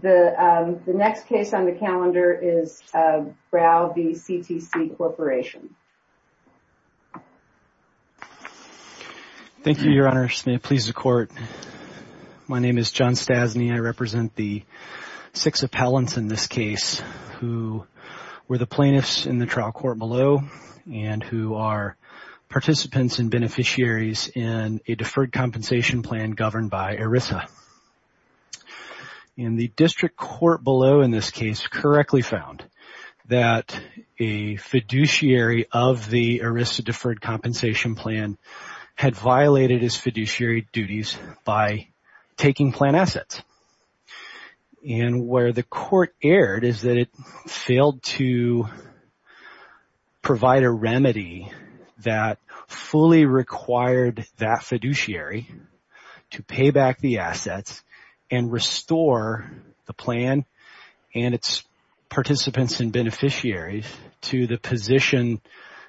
The next case on the calendar is Brow v. CTC Corporation. Thank you, your honors. May it please the court. My name is John Stasny. I represent the six appellants in this case who were the plaintiffs in the trial court below and who are participants and beneficiaries in a deferred compensation plan governed by ERISA. And the district court below in this case correctly found that a fiduciary of the ERISA deferred compensation plan had violated his fiduciary duties by taking plant assets. And where the court erred is that it failed to provide a remedy that fully required that and restore the plan and its participants and beneficiaries to the position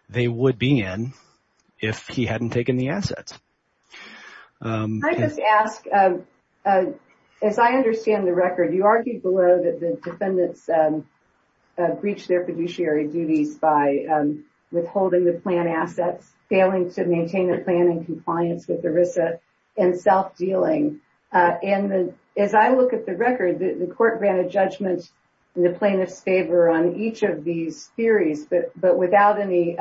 they would be in if he hadn't taken the assets. Can I just ask, as I understand the record, you argued below that the defendants breached their fiduciary duties by withholding the plant assets, failing to as I look at the record, the court granted judgment in the plaintiff's favor on each of these theories, but without any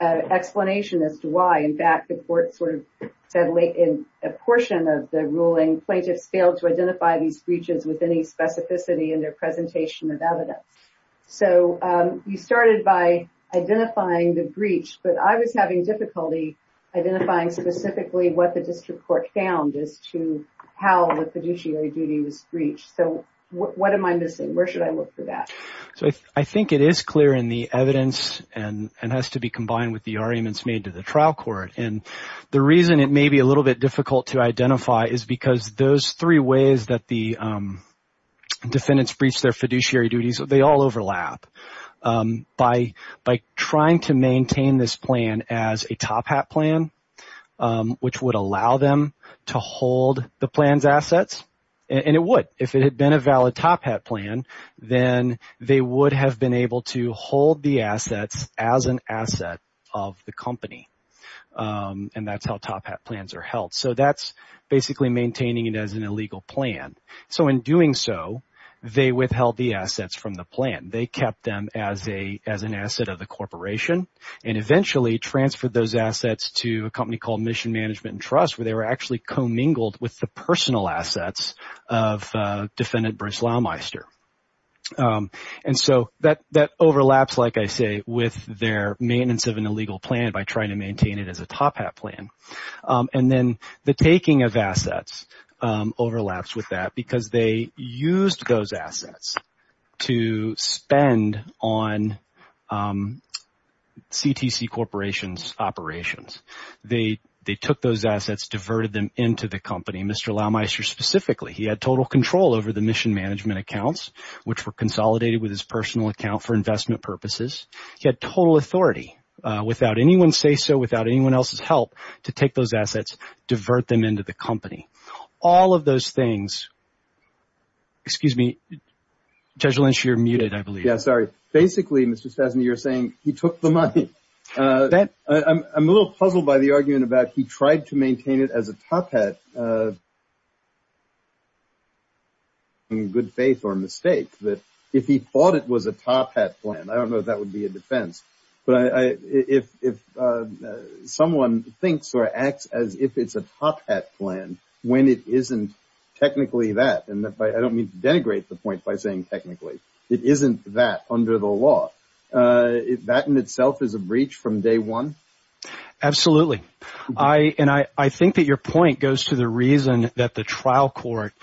explanation as to why. In fact, the court sort of said late in a portion of the ruling, plaintiffs failed to identify these breaches with any specificity in their presentation of evidence. So you started by identifying the breach, but I was having difficulty identifying specifically what the district court found as to how the fiduciary duty was breached. So what am I missing? Where should I look for that? So I think it is clear in the evidence and has to be combined with the arguments made to the trial court. And the reason it may be a little bit difficult to identify is because those three ways that the defendants breached their fiduciary duties, they all overlap. By trying to maintain this plan as a top hat plan, which would allow them to hold the plans assets. And it would, if it had been a valid top hat plan, then they would have been able to hold the assets as an asset of the company. And that's how top hat plans are held. So that's basically maintaining it as an illegal plan. So in doing so, they withheld the assets from the plan. They kept them as an asset of the corporation and eventually transferred those assets to a company called Mission Management and Trust, where they were actually commingled with the personal assets of defendant Bruce Laumeister. And so that overlaps, like I say, with their maintenance of an illegal plan by trying to maintain it as a top hat plan. And then the taking of assets overlaps with that because they used those assets to spend on CTC corporations operations. They took those assets, diverted them into the company. Mr. Laumeister specifically, he had total control over the mission management accounts, which were consolidated with his personal account for investment purposes. He had total authority without anyone say so, without anyone else's help to take those assets, divert them into the company. All of those things. Excuse me, Judge Lynch, you're muted, I believe. Yeah, sorry. Basically, Mr. Stasny, you're saying he took the money. I'm a little puzzled by the argument about he tried to maintain it as a top hat. In good faith or mistake that if he thought it was a top hat plan, I don't know if that would be a defense. But if someone thinks or acts as if it's a top hat plan, when it isn't technically that, and I don't mean to denigrate the point by saying technically, it isn't that under the law, that in itself is a breach from day one. Absolutely. And I think that your point goes to the reason that the trial court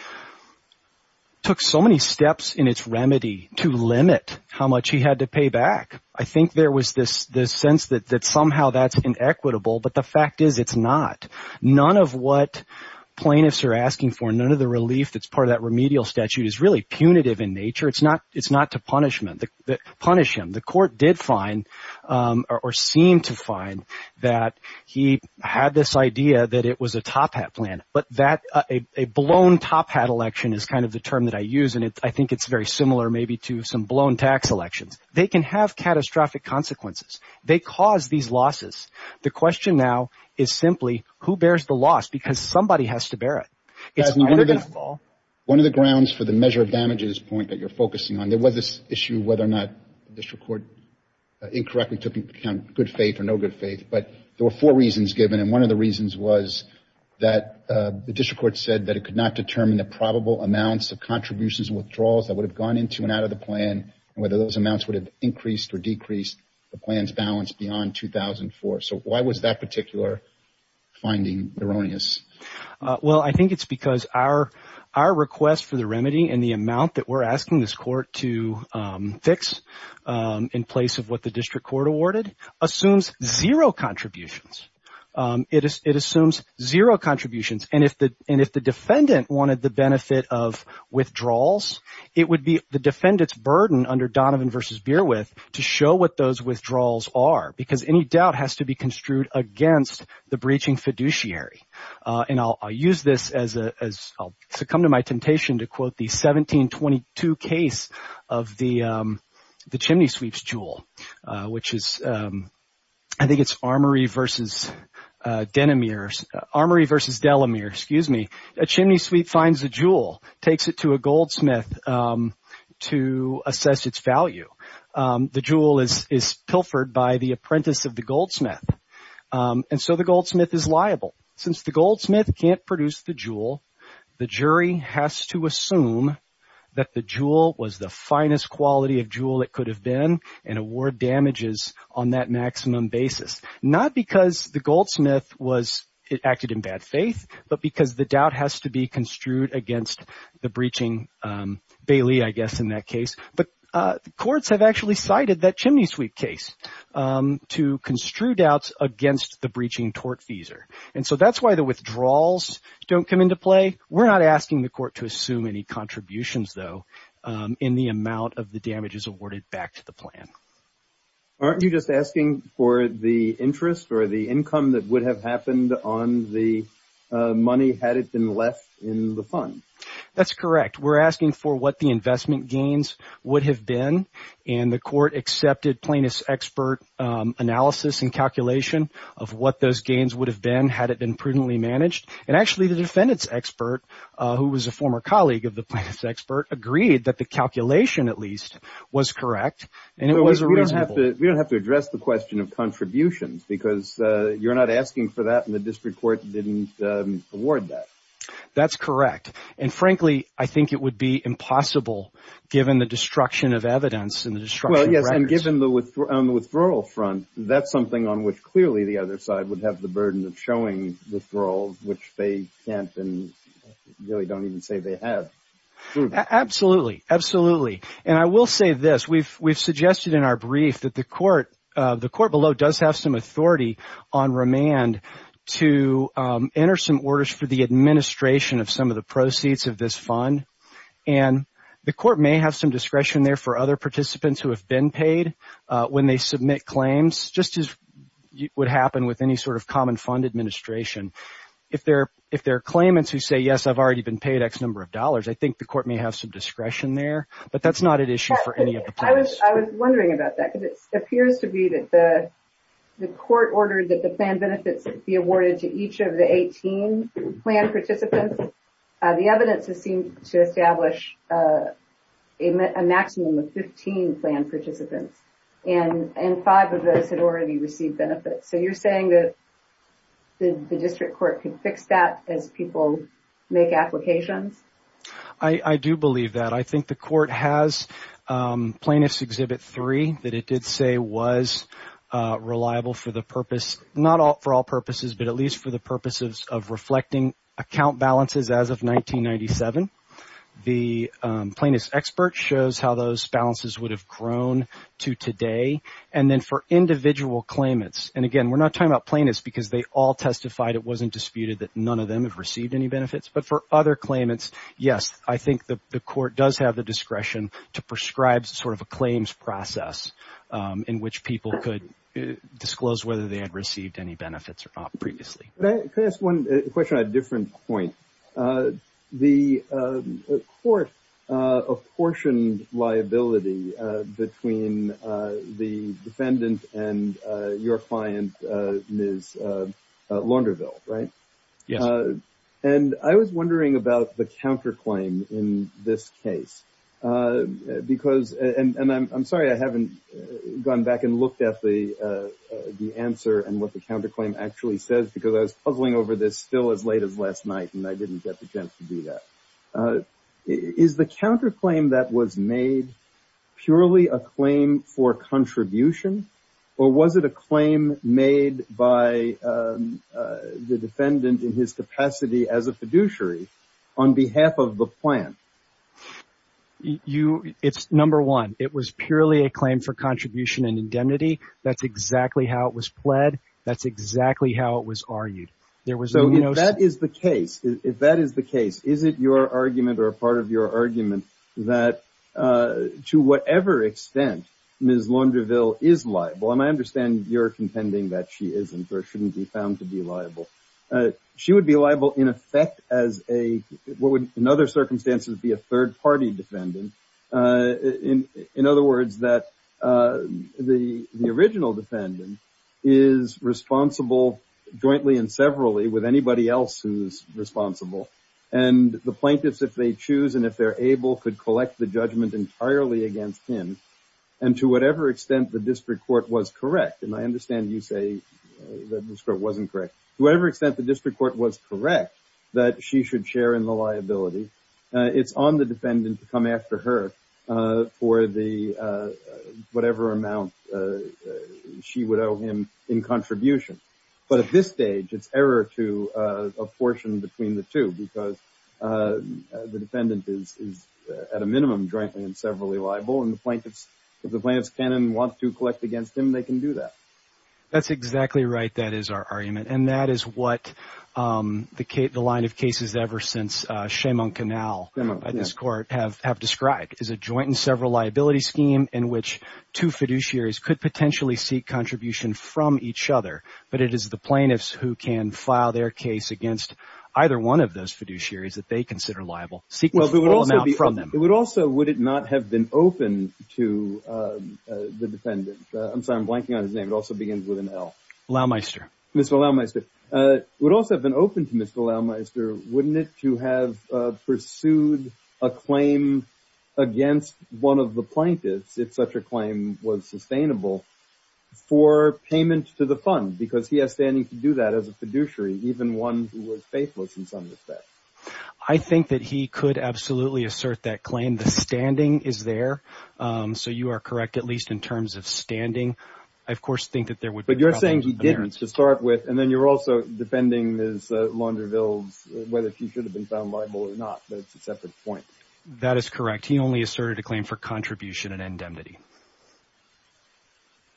took so many steps in its remedy to limit how much he had to I think there was this sense that somehow that's inequitable, but the fact is it's not. None of what plaintiffs are asking for, none of the relief that's part of that remedial statute is really punitive in nature. It's not to punish him. The court did find or seemed to find that he had this idea that it was a top hat plan. But a blown top hat election is kind of the term that I think it's very similar maybe to some blown tax elections. They can have catastrophic consequences. They cause these losses. The question now is simply who bears the loss because somebody has to bear it. One of the grounds for the measure of damages point that you're focusing on, there was this issue whether or not the district court incorrectly took into account good faith or no good faith, but there were four reasons given. And one of the reasons was that the district court said that it could not determine the probable amounts of contributions and withdrawals that would have gone into and out of the plan and whether those amounts would have increased or decreased the plan's balance beyond 2004. So why was that particular finding erroneous? Well, I think it's because our request for the remedy and the amount that we're asking this court to fix in place of what the district court awarded assumes zero contributions. It assumes zero contributions. And if the defendant wanted the benefit of withdrawals, it would be the defendant's burden under Donovan v. Beerwith to show what those withdrawals are because any doubt has to be construed against the breaching fiduciary. And I'll use this as I'll succumb to my temptation to quote the 1722 case of the chimney sweeps jewel, which is I think it's Armory v. Delamere. A chimney sweep finds a jewel, takes it to a goldsmith to assess its value. The jewel is pilfered by the apprentice of the goldsmith. And so the goldsmith is liable. Since the goldsmith can't produce the jewel, the jury has to assume that the jewel was the finest quality of jewel it could have been and award damages on that maximum basis, not because the goldsmith was it acted in bad faith, but because the doubt has to be construed against the breaching. Bailey, I guess in that case, but courts have actually cited that chimney sweep case to construe doubts against the breaching tortfeasor. And so that's why the withdrawals don't come into play. We're not asking the court to assume any contributions, though, in the amount of the damages awarded back to the plan. Aren't you just asking for the interest or the income that would have happened on the money had it been left in the fund? That's correct. We're asking for what the investment gains would have been. And the court accepted plaintiff's expert analysis and calculation of what those gains would have been had it been prudently managed. And actually, the defendant's expert, who was a calculation, at least was correct. And it was we don't have to we don't have to address the question of contributions because you're not asking for that in the district court. Didn't award that. That's correct. And frankly, I think it would be impossible given the destruction of evidence and the destruction. Well, yes. And given the withdrawal front, that's something on which clearly the other side would have the burden of showing withdrawal, which they can't and really don't even say they have. Absolutely. Absolutely. And I will say this. We've we've suggested in our brief that the court, the court below does have some authority on remand to enter some orders for the administration of some of the proceeds of this fund. And the court may have some discretion there for other participants who have been paid when they submit claims, just as would happen with any sort of common fund administration. If there if there are claimants who say, yes, I've already been paid X number of dollars, I think the court may have some discretion there. But that's not an issue for any of us. I was wondering about that because it appears to be that the the court ordered that the plan benefits be awarded to each of the 18 plan participants. The evidence has seemed to establish a maximum of 15 plan participants and five of those had already received benefits. So you're saying that the district court can fix that as people make applications? I do believe that. I think the court has plaintiff's exhibit three that it did say was reliable for the purpose, not for all purposes, but at least for the purposes of reflecting account balances. As of 1997, the plaintiff's expert shows how those balances would have grown to today. And then for individual claimants. And again, we're not talking about plaintiffs because they all testified. It wasn't disputed that none of them have received any benefits. But for other claimants, yes, I think the court does have the discretion to prescribe sort of a claims process in which people could disclose whether they had received any benefits or not previously. Can I ask one question on a different point? The court apportioned liability between the defendant and your client, Ms. Launderville, right? Yes. And I was wondering about the counter claim in this case. Because and I'm sorry, I haven't gone back and looked at the answer and the counter claim actually says, because I was puzzling over this still as late as last night, and I didn't get the chance to do that. Is the counter claim that was made purely a claim for contribution? Or was it a claim made by the defendant in his capacity as a fiduciary on behalf of the plan? It's number one, it was purely a claim for contribution and indemnity. That's exactly how it was pled. That's exactly how it was argued. So if that is the case, if that is the case, is it your argument or a part of your argument that to whatever extent Ms. Launderville is liable, and I understand you're contending that she isn't or shouldn't be found to be liable, she would be liable in effect as a what would in other circumstances be a third defendant. The original defendant is responsible jointly and severally with anybody else who's responsible. And the plaintiffs if they choose and if they're able could collect the judgment entirely against him. And to whatever extent the district court was correct, and I understand you say that this court wasn't correct, to whatever extent the district court was correct, that she should share in the liability. It's on the defendant to come after her for the whatever amount she would owe him in contribution. But at this stage, it's error to a portion between the two because the defendant is at a minimum jointly and severally liable and the plaintiffs, if the plaintiffs can and want to collect against him, they can do that. That's exactly right, that is our argument. And that is what the line of cases ever since Shem on Canal by this court have described, is a joint and several liability scheme in which two fiduciaries could potentially seek contribution from each other. But it is the plaintiffs who can file their case against either one of those fiduciaries that they consider liable. It would also, would it not have been open to the defendant? I'm sorry, I'm blanking on his name. It also begins with an L. Loughmeister. Mr. Loughmeister. It would also have been open to Mr. Loughmeister, wouldn't it, to have pursued a claim against one of the plaintiffs if such a claim was sustainable for payment to the fund because he has standing to do that as a fiduciary, even one who was faithless in some respect. I think that he could absolutely assert that claim. The standing is there. So you are correct, at least in terms of standing. I, of course, think that there would be a separate point. That is correct. He only asserted a claim for contribution and indemnity.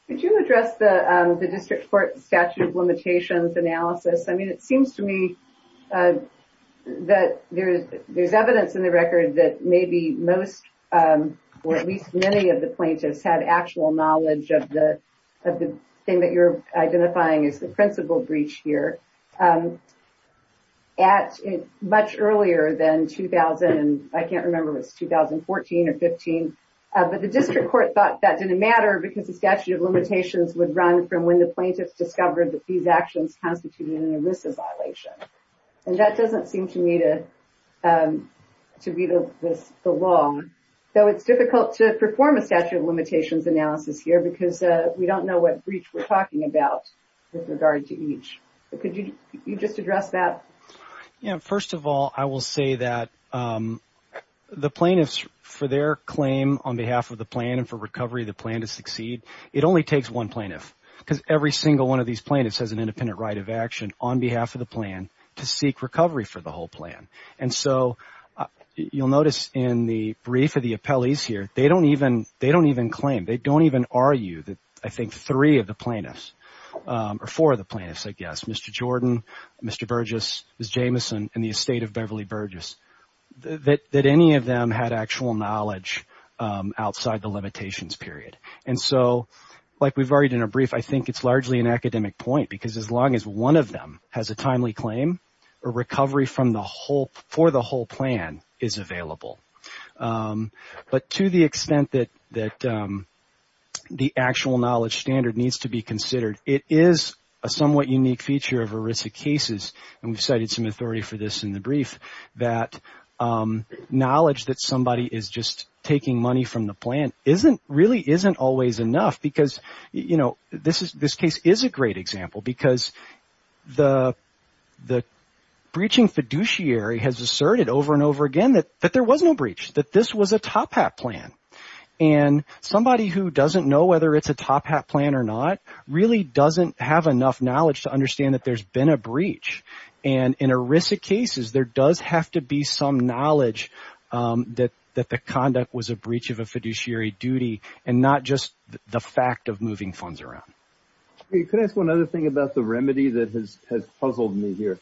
Could you address the district court statute of limitations analysis? I mean, it seems to me that there's evidence in the record that maybe most or at least many of the plaintiffs had actual knowledge of the thing that you're identifying as the principal breach here at much earlier than 2000. I can't remember if it was 2014 or 15, but the district court thought that didn't matter because the statute of limitations would run from when the plaintiffs discovered that these actions constituted an illicit violation. And that doesn't seem to me to be the law. So it's difficult to perform a statute of limitations analysis here because we don't know what breach we're talking about with regard to each. Could you just address that? Yeah. First of all, I will say that the plaintiffs for their claim on behalf of the plan and for recovery of the plan to succeed, it only takes one plaintiff because every single one of these plaintiffs has an independent right of action on behalf of the plan to seek recovery for the whole plan. And so you'll notice in the brief of the appellees here, they don't even claim, they don't even argue that I think three of the plaintiffs or four of the plaintiffs, I guess, Mr. Jordan, Mr. Burgess, Ms. Jameson, and the estate of Beverly Burgess, that any of them had actual knowledge outside the limitations period. And so like we've already done a brief, I think it's largely an academic point because as long as one of them has a timely claim or recovery from the for the whole plan is available. But to the extent that the actual knowledge standard needs to be considered, it is a somewhat unique feature of ERISA cases and we've cited some authority for this in the brief that knowledge that somebody is just taking money from the plan really isn't always enough because this case is a great example because the breaching fiduciary has asserted over and over again that there was no breach, that this was a top hat plan. And somebody who doesn't know whether it's a top hat plan or not really doesn't have enough knowledge to understand that there's been a breach. And in ERISA cases, there does have to be knowledge that the conduct was a breach of a fiduciary duty and not just the fact of moving funds around. You could ask one other thing about the remedy that has puzzled me here.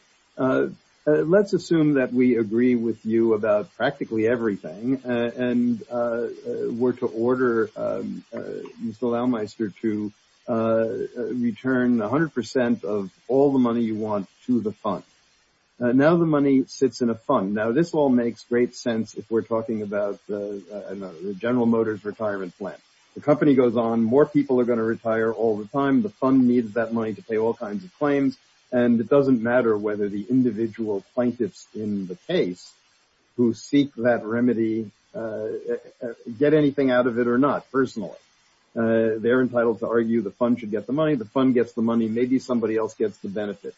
Let's assume that we agree with you about practically everything and were to order Mr. Laumeister to return 100% of all the money you want to the fund. Now the money sits in a fund. Now this all makes great sense if we're talking about the General Motors retirement plan. The company goes on, more people are going to retire all the time, the fund needs that money to pay all kinds of claims and it doesn't matter whether the individual plaintiffs in the case who seek that remedy get anything out of it or not personally. They're entitled to argue the fund should get the money, the fund gets the money, maybe somebody else gets the benefit.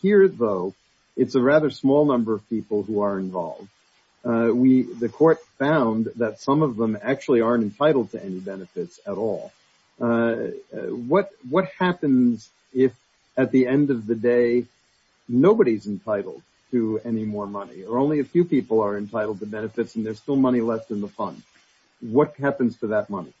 Here though, it's a rather small number of people who are involved. The court found that some of them actually aren't entitled to any benefits at all. What happens if at the end of the day, nobody's entitled to any more money or only a few people are entitled to benefits and there's still money left in the fund? What happens to that money?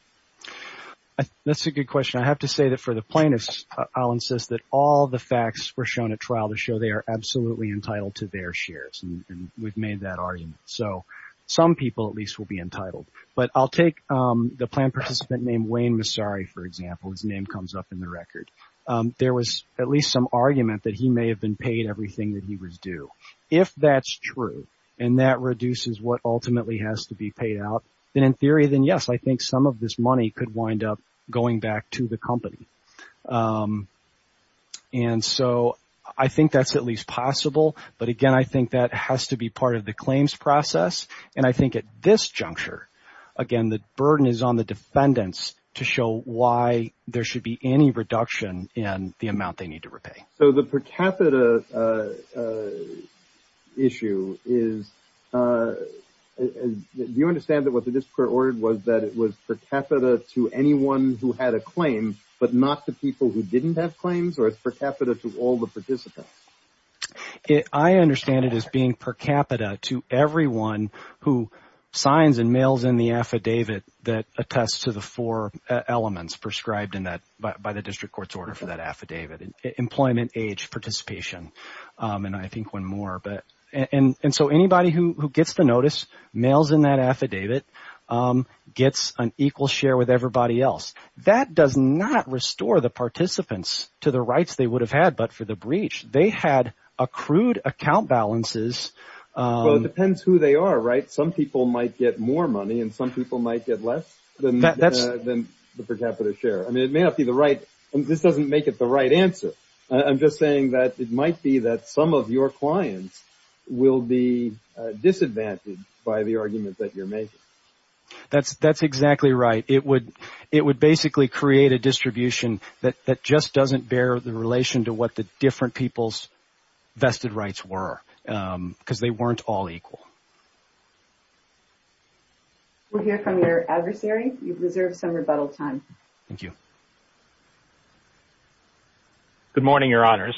That's a good question. I have to say that for the plaintiffs, I'll insist that all the facts were shown at trial to show they are absolutely entitled to their shares and we've made that argument. Some people at least will be entitled but I'll take the plan participant named Wayne Massari for example, his name comes up in the record. There was at least some argument that he may have been paid everything that he was due. If that's true and that reduces what ultimately has to be paid out, then in theory, then yes, I think some of this money could wind up going back to the company. I think that's at least possible but again, I think that has to be part of the claims process and I think at this juncture, again, the burden is on the defendants to show why there should be any reduction in the amount they need to repay. The per capita issue, do you understand that what the district court ordered was that it was per capita to anyone who had a claim but not to people who didn't have claims or it's per capita to all the participants? I understand it as being per capita to everyone who signs and mails in the affidavit that attests to the four elements prescribed by the district court's order for employment, age, participation and I think one more. So anybody who gets the notice, mails in that affidavit, gets an equal share with everybody else. That does not restore the participants to the rights they would have had but for the breach. They had accrued account balances. Well, it depends who they are, right? Some people might get more money and some people might get less than the per capita share. I mean, it may not be the right and this doesn't make it the right answer. I'm just saying that it might be that some of your clients will be disadvantaged by the argument that you're making. That's exactly right. It would basically create a distribution that just doesn't bear the relation to what the different people's vested rights were because they weren't all equal. We'll hear from your adversary. You've reserved some rebuttal time. Thank you. Good morning, your honors.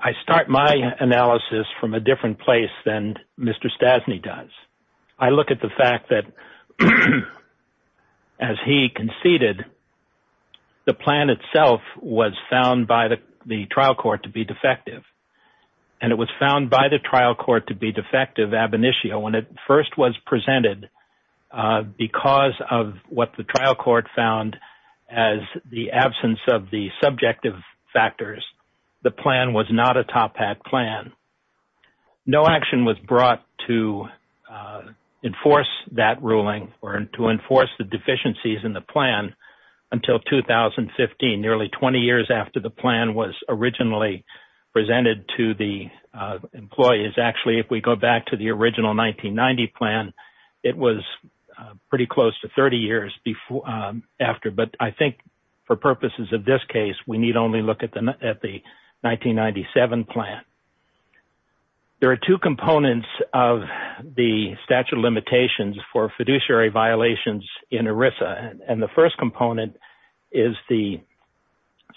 I start my analysis from a different place than Mr. Stassney does. I look at the fact that as he conceded the plan itself was found by the trial court to be defective ab initio when it first was presented because of what the trial court found as the absence of the subjective factors. The plan was not a top hat plan. No action was brought to enforce that ruling or to enforce the deficiencies in the plan until 2015, nearly 20 years after the employee. Actually, if we go back to the original 1990 plan, it was pretty close to 30 years after. I think for purposes of this case, we need only look at the 1997 plan. There are two components of the statute of limitations for fiduciary violations in ERISA. The first component is the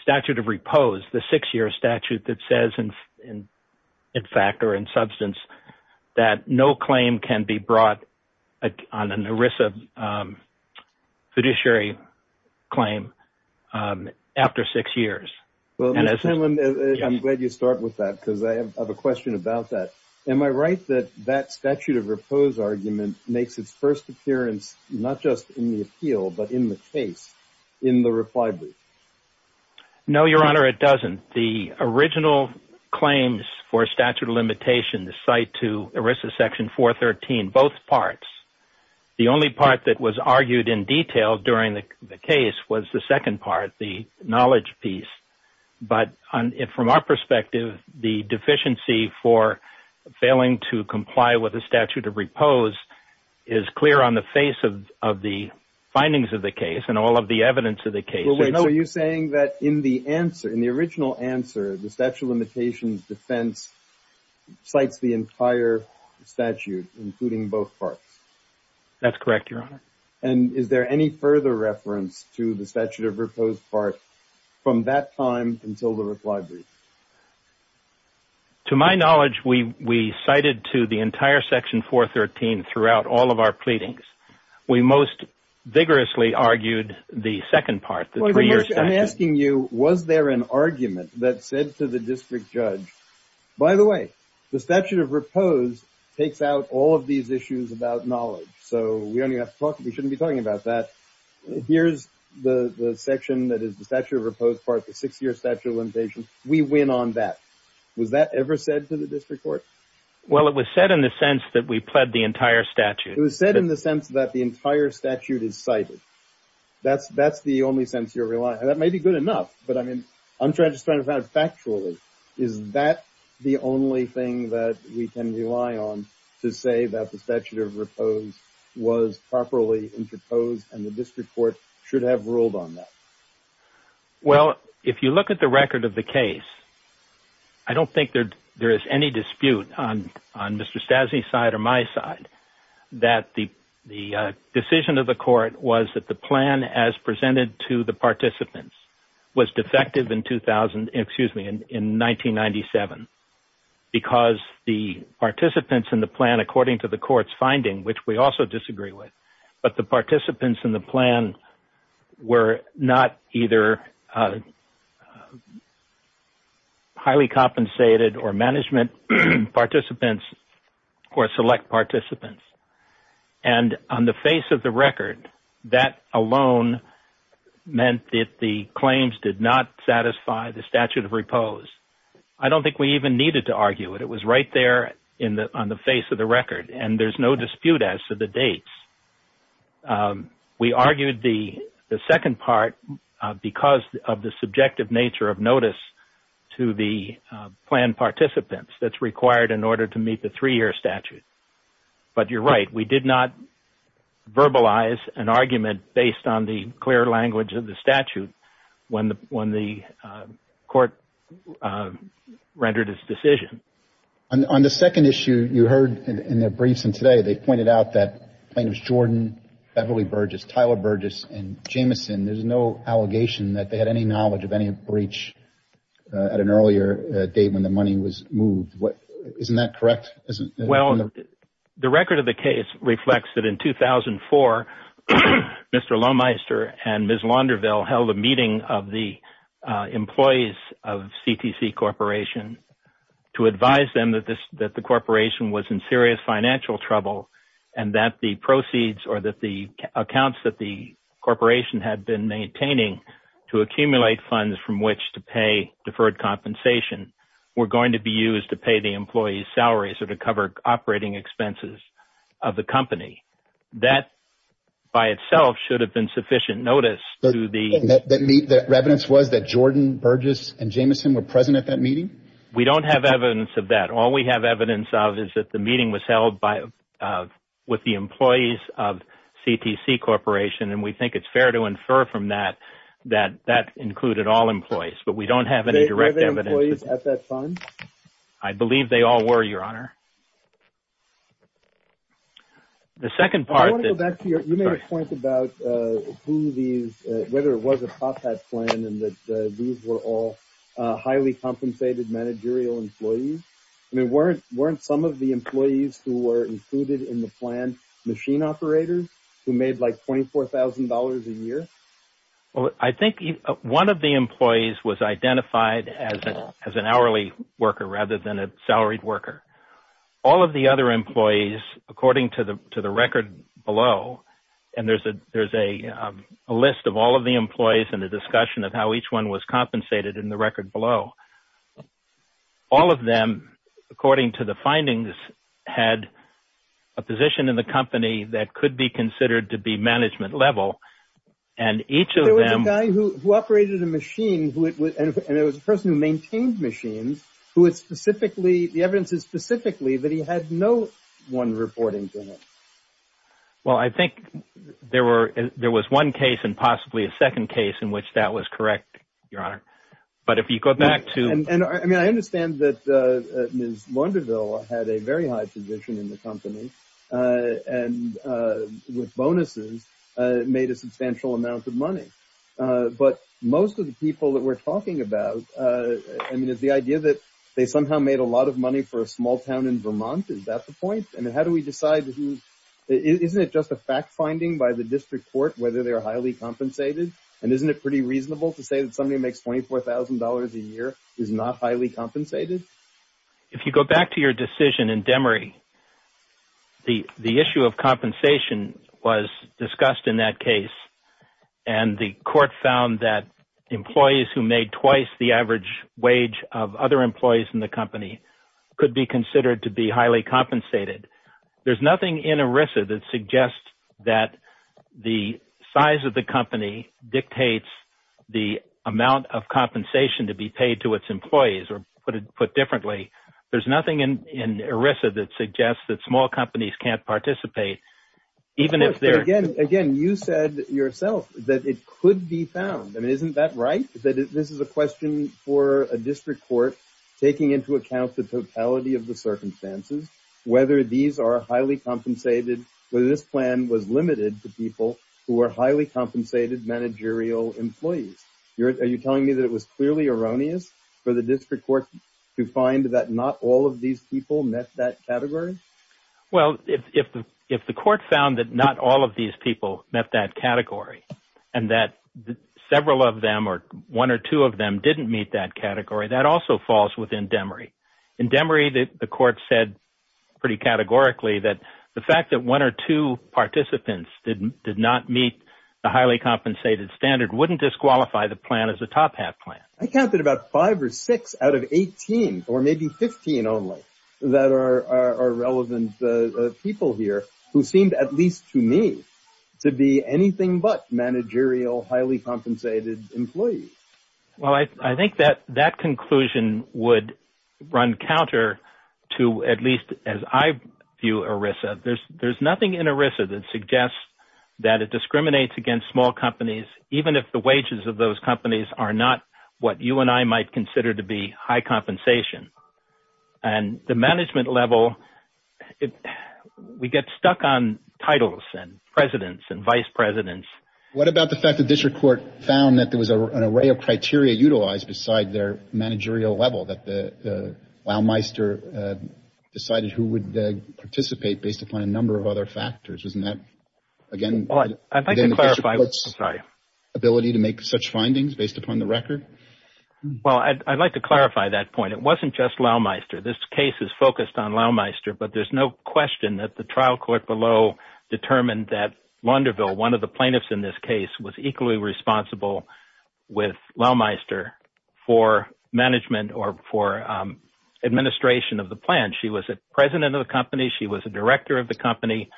statute of repose, the six-year statute that says, in fact or in substance, that no claim can be brought on an ERISA fiduciary claim after six years. I'm glad you start with that because I have a question about that. Am I right that that but in the case, in the reply brief? No, your honor, it doesn't. The original claims for statute of limitation, the site to ERISA section 413, both parts. The only part that was argued in detail during the case was the second part, the knowledge piece. But from our perspective, the deficiency for failing to comply with the statute of repose is clear on the face of the findings of the case and all of the evidence of the case. Are you saying that in the answer, in the original answer, the statute of limitations defense cites the entire statute, including both parts? That's correct, your honor. Is there any further reference to the statute of repose part from that time until the reply brief? To my knowledge, we cited to the entire section 413 throughout all of our pleadings. We most vigorously argued the second part. I'm asking you, was there an argument that said to the district judge, by the way, the statute of repose takes out all of these issues about knowledge. So we only have to talk. We shouldn't be talking about that. Here's the section that the statute of repose part, the six-year statute of limitations. We win on that. Was that ever said to the district court? Well, it was said in the sense that we pled the entire statute. It was said in the sense that the entire statute is cited. That's the only sense you're relying on. That may be good enough, but I mean, I'm just trying to find factually, is that the only thing that we can rely on to say that the statute of repose was properly interposed and the district court should have ruled on that? Well, if you look at the record of the case, I don't think there is any dispute on Mr. Stassi's side or my side that the decision of the court was that the plan as presented to the participants was defective in 2000, excuse me, in 1997 because the participants in the plan, according to the court's finding, which we also disagree with, but the participants in the plan were not either highly compensated or management participants or select participants. And on the face of the record, that alone meant that the claims did not satisfy the statute of repose. I don't think we even needed to argue it. It was right there on the face of the record, and there's no dispute as to the dates. We argued the second part because of the subjective nature of notice to the plan participants that's required in order to meet the three-year statute. But you're right, we did not verbalize an argument based on the clear language of the statute when the court rendered its decision. On the second issue, you heard in their briefs and today, they pointed out that plaintiffs Jordan, Beverly Burgess, Tyler Burgess, and Jamison, there's no allegation that they had any knowledge of any breach at an earlier date when the money was moved. Isn't that correct? Well, the record of the case reflects that in 2004, Mr. Lohmeister and Ms. Launderville held a meeting of the employees of CTC Corporation to advise them that the corporation was in serious financial trouble and that the proceeds or that the accounts that the corporation had been maintaining to accumulate funds from which to pay deferred compensation were going to be used to pay the employees' salaries or to cover operating expenses of the company. That, by itself, should have been sufficient notice. The evidence was that Jordan, Burgess, and Jamison were present at that meeting? We don't have evidence of that. All we have evidence of is that the meeting was held with the employees of CTC Corporation and we think it's fair to infer from that that that included all employees, but we don't have any direct evidence. Were there employees at that fund? I believe they all were, Your Honor. I want to go back to your point about whether it was a top hat plan and that these were all highly compensated managerial employees. I mean, weren't some of the employees who were included in the plan machine operators who made like $24,000 a year? I think one of the employees was identified as an hourly worker rather than a salaried worker. All of the other employees, according to the record below, and there's a list of all of the employees in the discussion of how each one was compensated in the record below, all of them, according to the findings, had a position in the company that could be considered to be management level and each of them... There was a guy who operated a machine and it was a person who maintained machines who had specifically, the evidence is specifically that he had no one reporting to him. Well, I think there was one case and possibly a second case in which that was correct, Your Honor, but if you go back to... I mean, I understand that Ms. Launderville had a very high position in the company and with bonuses made a substantial amount of money, but most of the people that we're talking about, I mean, it's the idea that they somehow made a lot of money for a small town in Vermont. Is that the point? I mean, how do we decide who... Isn't it just a fact finding by the district court whether they're highly compensated? And isn't it pretty reasonable to say that somebody who makes $24,000 a year is not highly compensated? If you go back to your decision in Demery, the issue of compensation was discussed in that case and the court found that employees who made twice the average wage of other employees in the company could be considered to be highly compensated. There's nothing in ERISA that suggests that the size of the company dictates the amount of compensation to be paid to its employees or put differently. There's nothing in ERISA that suggests that small companies can't participate even if they're... Again, you said yourself that it could be found. I mean, isn't that right? That this is a question for a district court taking into account the totality of the circumstances, whether these are highly compensated, whether this plan was limited to people who are highly compensated managerial employees. Are you telling me that it was clearly erroneous for the district court to find that not all of these people met that category? Well, if the court found that not all of these people met that category and that several of them or one or two of them didn't meet that category, that also falls within Demery. In Demery, the court said pretty categorically that the fact that one or two participants did not meet the highly compensated standard wouldn't disqualify the plan as a top-half plan. I counted about five or six out of 18 or maybe 15 only that are relevant people here who seemed, at least to me, to be anything but managerial highly compensated employees. Well, I think that that conclusion would run counter to at least as I view ERISA. There's nothing in ERISA that suggests that it discriminates against small companies, even if the wages of those companies are not what you and I might consider to be high compensation. And the management level, we get stuck on titles and presidents and vice presidents. What about the fact that district court found that there was an array of criteria utilized beside their managerial level that the wowmeister decided who would participate based upon a number of other factors? I'd like to clarify that point. It wasn't just wowmeister. This case is focused on wowmeister, but there's no question that the trial court below determined that Launderville, one of the plaintiffs in this case, was equally responsible with wowmeister for management or for administration of the plan. She was a president of the company. She was a director of the company.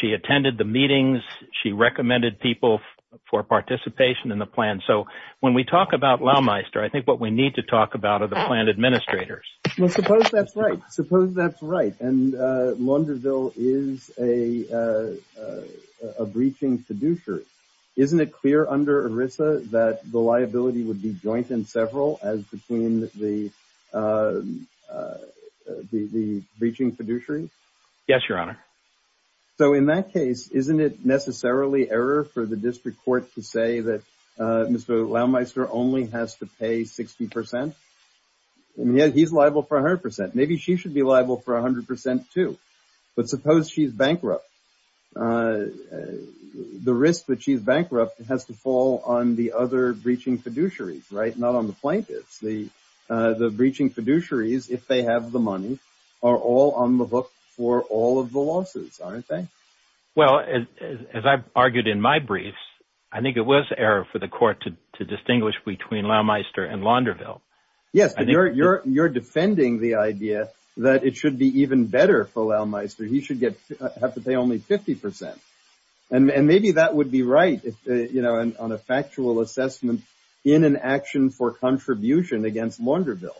She attended the meetings. She recommended people for participation in the plan. So when we talk about wowmeister, I think what we need to talk about are the plan administrators. Well, suppose that's right. And Launderville is a breaching fiduciary. Isn't it clear under ERISA that the liability would be joint in several as between the breaching fiduciary? Yes, your honor. So in that case, isn't it necessarily error for the district court to say that Mr. Wowmeister only has to pay 60 percent? He's liable for 100 percent. Maybe she should be liable for 100 percent too. But suppose she's bankrupt. The risk that she's bankrupt has to fall on the other breaching fiduciaries, right? Not on the plaintiffs. The breaching fiduciaries, if they have the money, are all on the hook for all of the losses, aren't they? Well, as I've argued in my briefs, I think it was error for the court to distinguish between wowmeister and Launderville. Yes, but you're defending the idea that it should be even better for wowmeister. He should have to pay only 50 percent. And maybe that would be right on a factual assessment in an action for contribution against Launderville.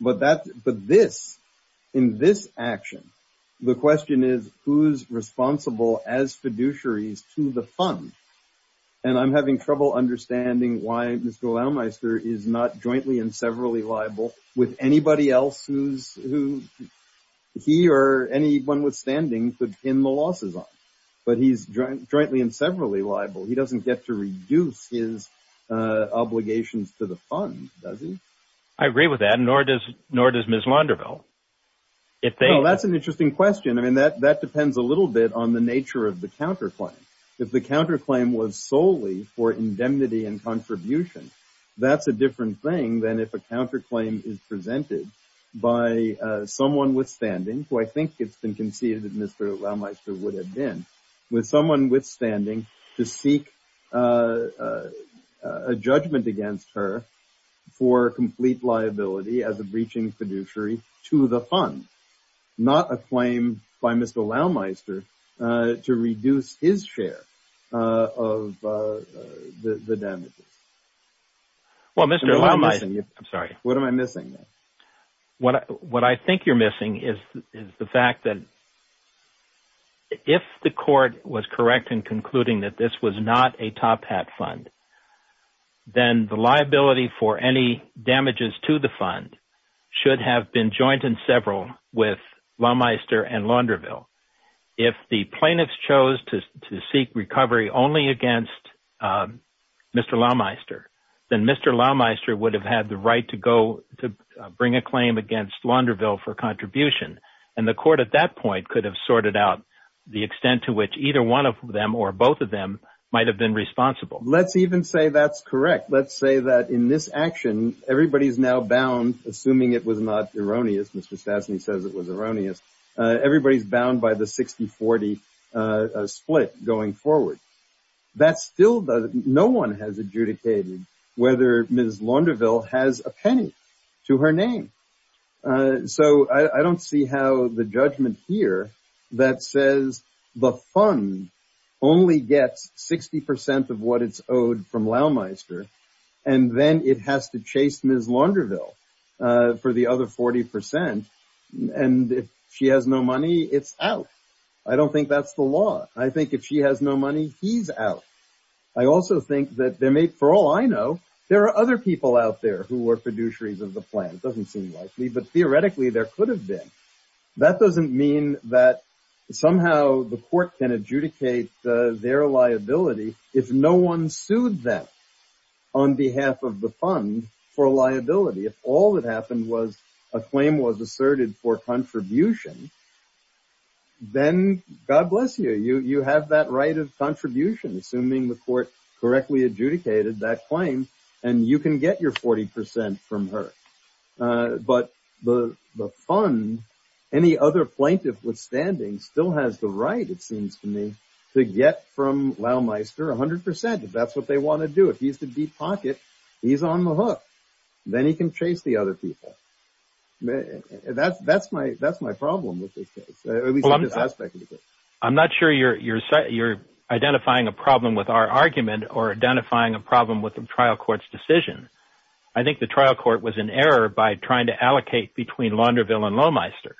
But in this action, the question is who's responsible as fiduciaries to the fund? And I'm having trouble understanding why Mr. Wowmeister is not jointly and severally liable with anybody else who he or anyone withstanding could pin the losses on. But he's jointly and severally liable. He doesn't get to reduce his obligations to the fund, does he? I agree with that, nor does Ms. Launderville. That's an interesting question. I mean, that depends a little bit on the nature of the counterclaim. If the counterclaim was solely for indemnity and contribution, that's a different thing than if a counterclaim is presented by someone withstanding, who I think it's been conceded that Mr. Wowmeister would have been, with someone withstanding to seek a judgment against her for complete liability as a breaching fiduciary to the fund, not a claim by Mr. Wowmeister to reduce his share of the damages. Well, Mr. Wowmeister, what am I missing? What I think you're missing is the fact that if the court was correct in concluding that this was not a top hat fund, then the liability for any damages to the fund should have been joined in several with Wowmeister and Launderville. If the plaintiffs chose to seek recovery only against Mr. Wowmeister, then Mr. Wowmeister would have had the right to go to bring a claim against Launderville for contribution. And the court at that point could have sorted out the extent to which either one of them or both of them might have been responsible. Let's even say that's correct. Let's say that in this action, everybody's now bound, assuming it was not erroneous, Mr. Stastny says it was erroneous, everybody's bound by the 60-40 split going forward. That's still, no one has adjudicated whether Ms. Launderville has a penny to her name. So I don't see how the judgment here that says the fund only gets 60 percent of what it's owed from Wowmeister, and then it has to chase Ms. Launderville for the other 40 percent, and if she has no money, it's out. I don't think that's the law. I think if she has no money, he's out. I also think that there may, for all I know, there are other people out there who are fiduciaries of the plan. It doesn't seem likely, but theoretically there could have been. That doesn't mean that somehow the court can adjudicate their liability if no one sued them on behalf of the fund for liability. If all that happened was a claim was asserted for contribution, then God bless you, you have that right of contribution, assuming the court correctly adjudicated that claim, and you can get your 40 percent from her. But the fund, any other plaintiff withstanding, still has the right, it seems to me, to get from Wowmeister 100 percent if that's what they want to do. If he's the deep pocket, he's on the hook. Then he can chase the other people. That's my problem with this case, at least in this aspect of the case. I'm not sure you're identifying a problem with our argument or identifying a problem with the trial court's decision. I think the trial court was in error by trying to allocate between Launderville and Lowmeister.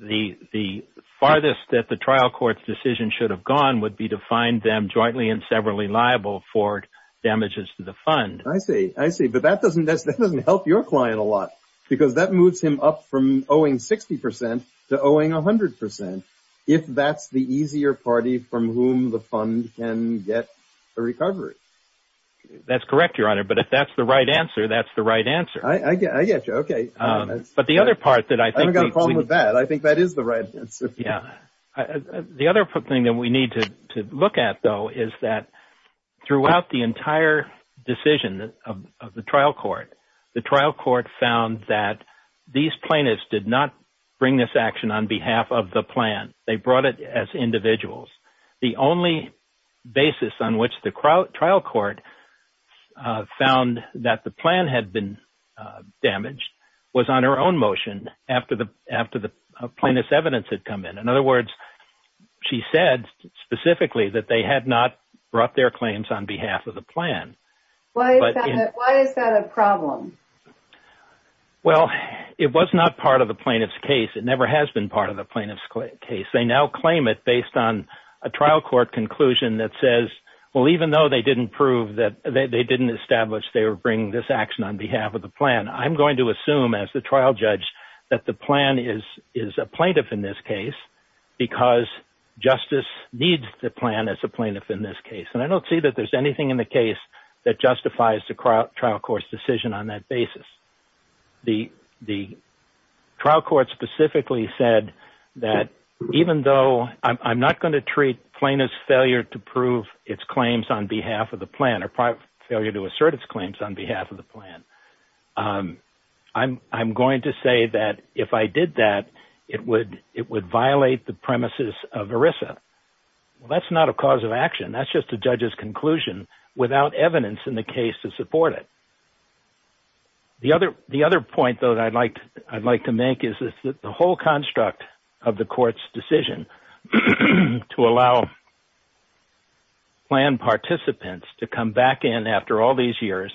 The farthest that the trial court's decision should have gone would be to find them jointly and severally liable for damages to the fund. I see. I see. But that doesn't help your client a lot, because that moves him up from That's correct, Your Honor. But if that's the right answer, that's the right answer. I get you. Okay. But the other part that I think I've got a problem with that, I think that is the right answer. Yeah. The other thing that we need to look at, though, is that throughout the entire decision of the trial court, the trial court found that these plaintiffs did not bring this action on behalf of the plan. They brought it as individuals. The only basis on which the trial court found that the plan had been damaged was on her own motion after the plaintiff's evidence had come in. In other words, she said specifically that they had not brought their claims on behalf of the plan. Why is that a problem? Well, it was not part of the plaintiff's case. It never has been part of the plaintiff's case. They now claim it based on a trial court conclusion that says, well, even though they didn't prove that they didn't establish they were bringing this action on behalf of the plan, I'm going to assume as the trial judge that the plan is a plaintiff in this case because justice needs the plan as a plaintiff in this case. And I don't see that there's anything in the case that justifies the trial court's decision on that basis. The trial court specifically said that even though I'm not going to treat plaintiff's failure to prove its claims on behalf of the plan or failure to assert its claims on behalf of the plan, I'm going to say that if I did that, it would violate the premises of ERISA. Well, that's not a cause of action. That's just a judge's conclusion without evidence in the case to support it. The other point, though, I'd like to make is that the whole construct of the court's decision to allow plan participants to come back in after all these years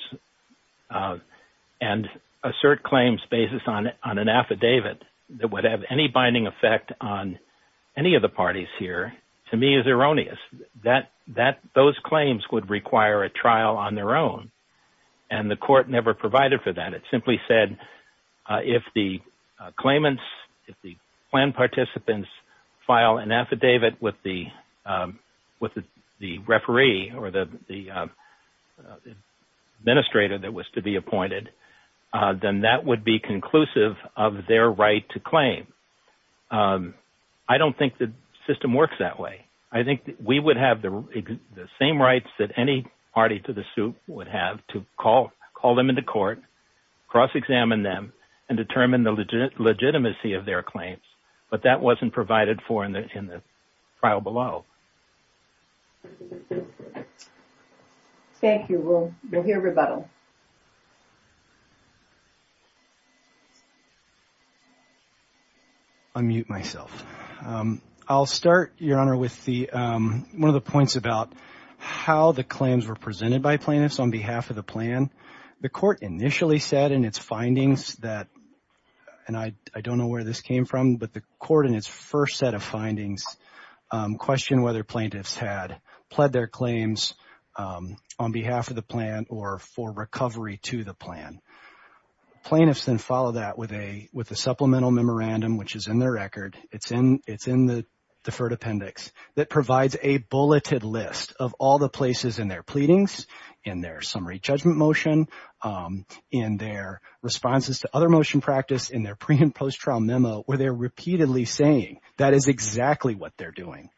and assert claims based on an affidavit that would have any binding effect on any of the parties here to me is erroneous. Those claims would require a trial on their own. And the court never provided for that. It simply said, if the claimants, if the plan participants file an affidavit with the referee or the administrator that was to be appointed, then that would be conclusive of their right to claim. I don't think the system works that way. I think we would have the same rights that any party to the suit would have to call them into court, cross-examine them, and determine the legitimacy of their claims. But that wasn't provided for in the trial below. Thank you. We'll hear rebuttal. Unmute myself. I'll start, Your Honor, with one of the points about how the claims were presented by plaintiffs on behalf of the plan. The court initially said in its findings that, and I don't know where this came from, but the court in its first set of findings questioned whether plaintiffs had pled their claims on behalf of the plan or for recovery to the plan. Plaintiffs then follow that with a supplemental memorandum, which is in their record, it's in the deferred appendix, that provides a bulleted list of all the places in their pleadings, in their summary judgment motion, in their responses to other motion practice, in their pre- and post-trial memo where they're repeatedly saying that is exactly what they're doing.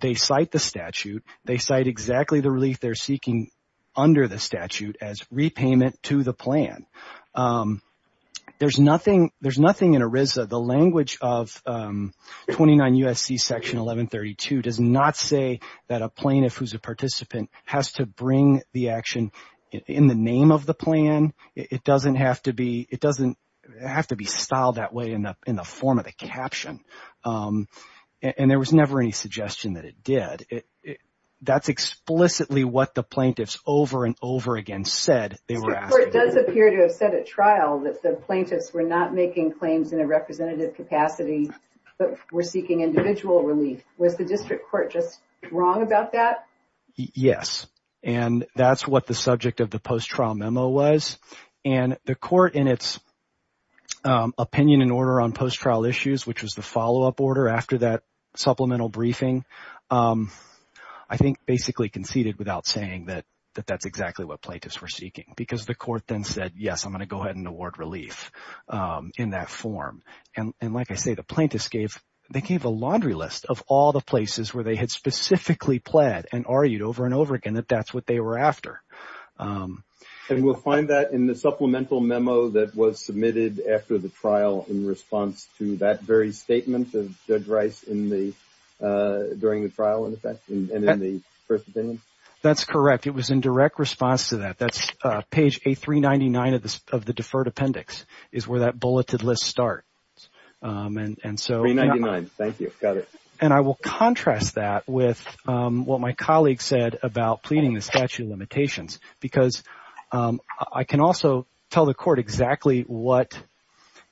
They cite the statute. They cite exactly the relief they're seeking under the statute as repayment to the plan. There's nothing in ERISA, the language of 29 U.S.C. section 1132 does not say that a plaintiff who's a participant has to bring the action in the name of the plan. It doesn't have to be, it doesn't have to be styled that way in the form of the caption. And there was never any suggestion that it did. That's explicitly what the plaintiffs over and over again said they were asking. The court does appear to have said at trial that the plaintiffs were not making claims in a representative capacity, but were seeking individual relief. Was the district court just wrong about that? Yes. And that's what the subject of the post-trial memo was. And the court in its opinion and order on post-trial issues, which was the follow-up order after that supplemental briefing, I think basically conceded without saying that that's exactly what plaintiffs were seeking. Because the court then said, yes, I'm going to go ahead and award relief in that form. And like I say, the plaintiffs gave, they gave a laundry list of all the places where they had specifically pled and argued over and after. And we'll find that in the supplemental memo that was submitted after the trial in response to that very statement of Judge Rice in the, during the trial in effect and in the first opinion? That's correct. It was in direct response to that. That's page A399 of the deferred appendix is where that bulleted list start. And so. 399, thank you. Got it. And I will contrast that with what my colleague said about pleading the statute of limitations, because I can also tell the court exactly what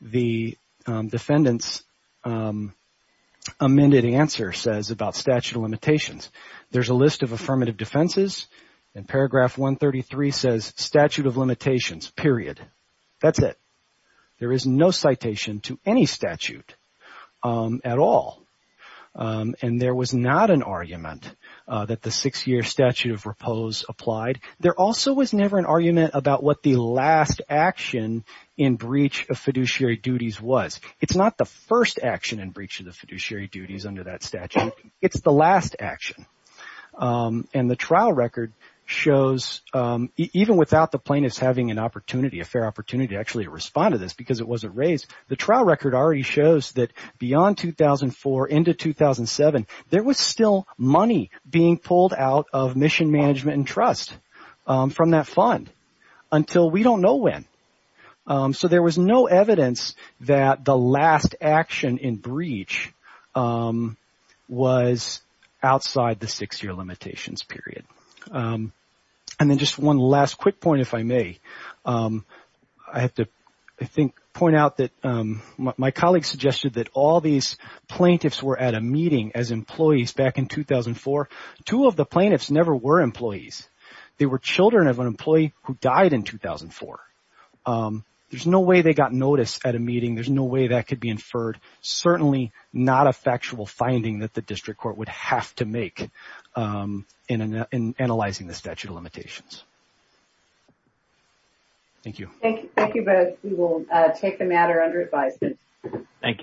the defendant's amended answer says about statute of limitations. There's a list of affirmative defenses and paragraph 133 says statute of limitations, period. That's it. There is no citation to any statute at all. And there was not an argument that the six-year statute of repose applied. There also was never an argument about what the last action in breach of fiduciary duties was. It's not the first action in breach of the fiduciary duties under that statute. It's the last action. And the trial a fair opportunity to actually respond to this because it wasn't raised. The trial record already shows that beyond 2004 into 2007, there was still money being pulled out of Mission Management and Trust from that fund until we don't know when. So there was no evidence that the last action in breach was outside the six-year limitations period. And then just one last quick point, if I may, I have to, I think, point out that my colleague suggested that all these plaintiffs were at a meeting as employees back in 2004. Two of the plaintiffs never were employees. They were children of an employee who died in 2004. There's no way they got noticed at a meeting. There's no way that could be inferred. Certainly not a factual finding that the district court would have to make in analyzing the statute of limitations. Thank you. Thank you both. We will take the matter under advisement. Thank you.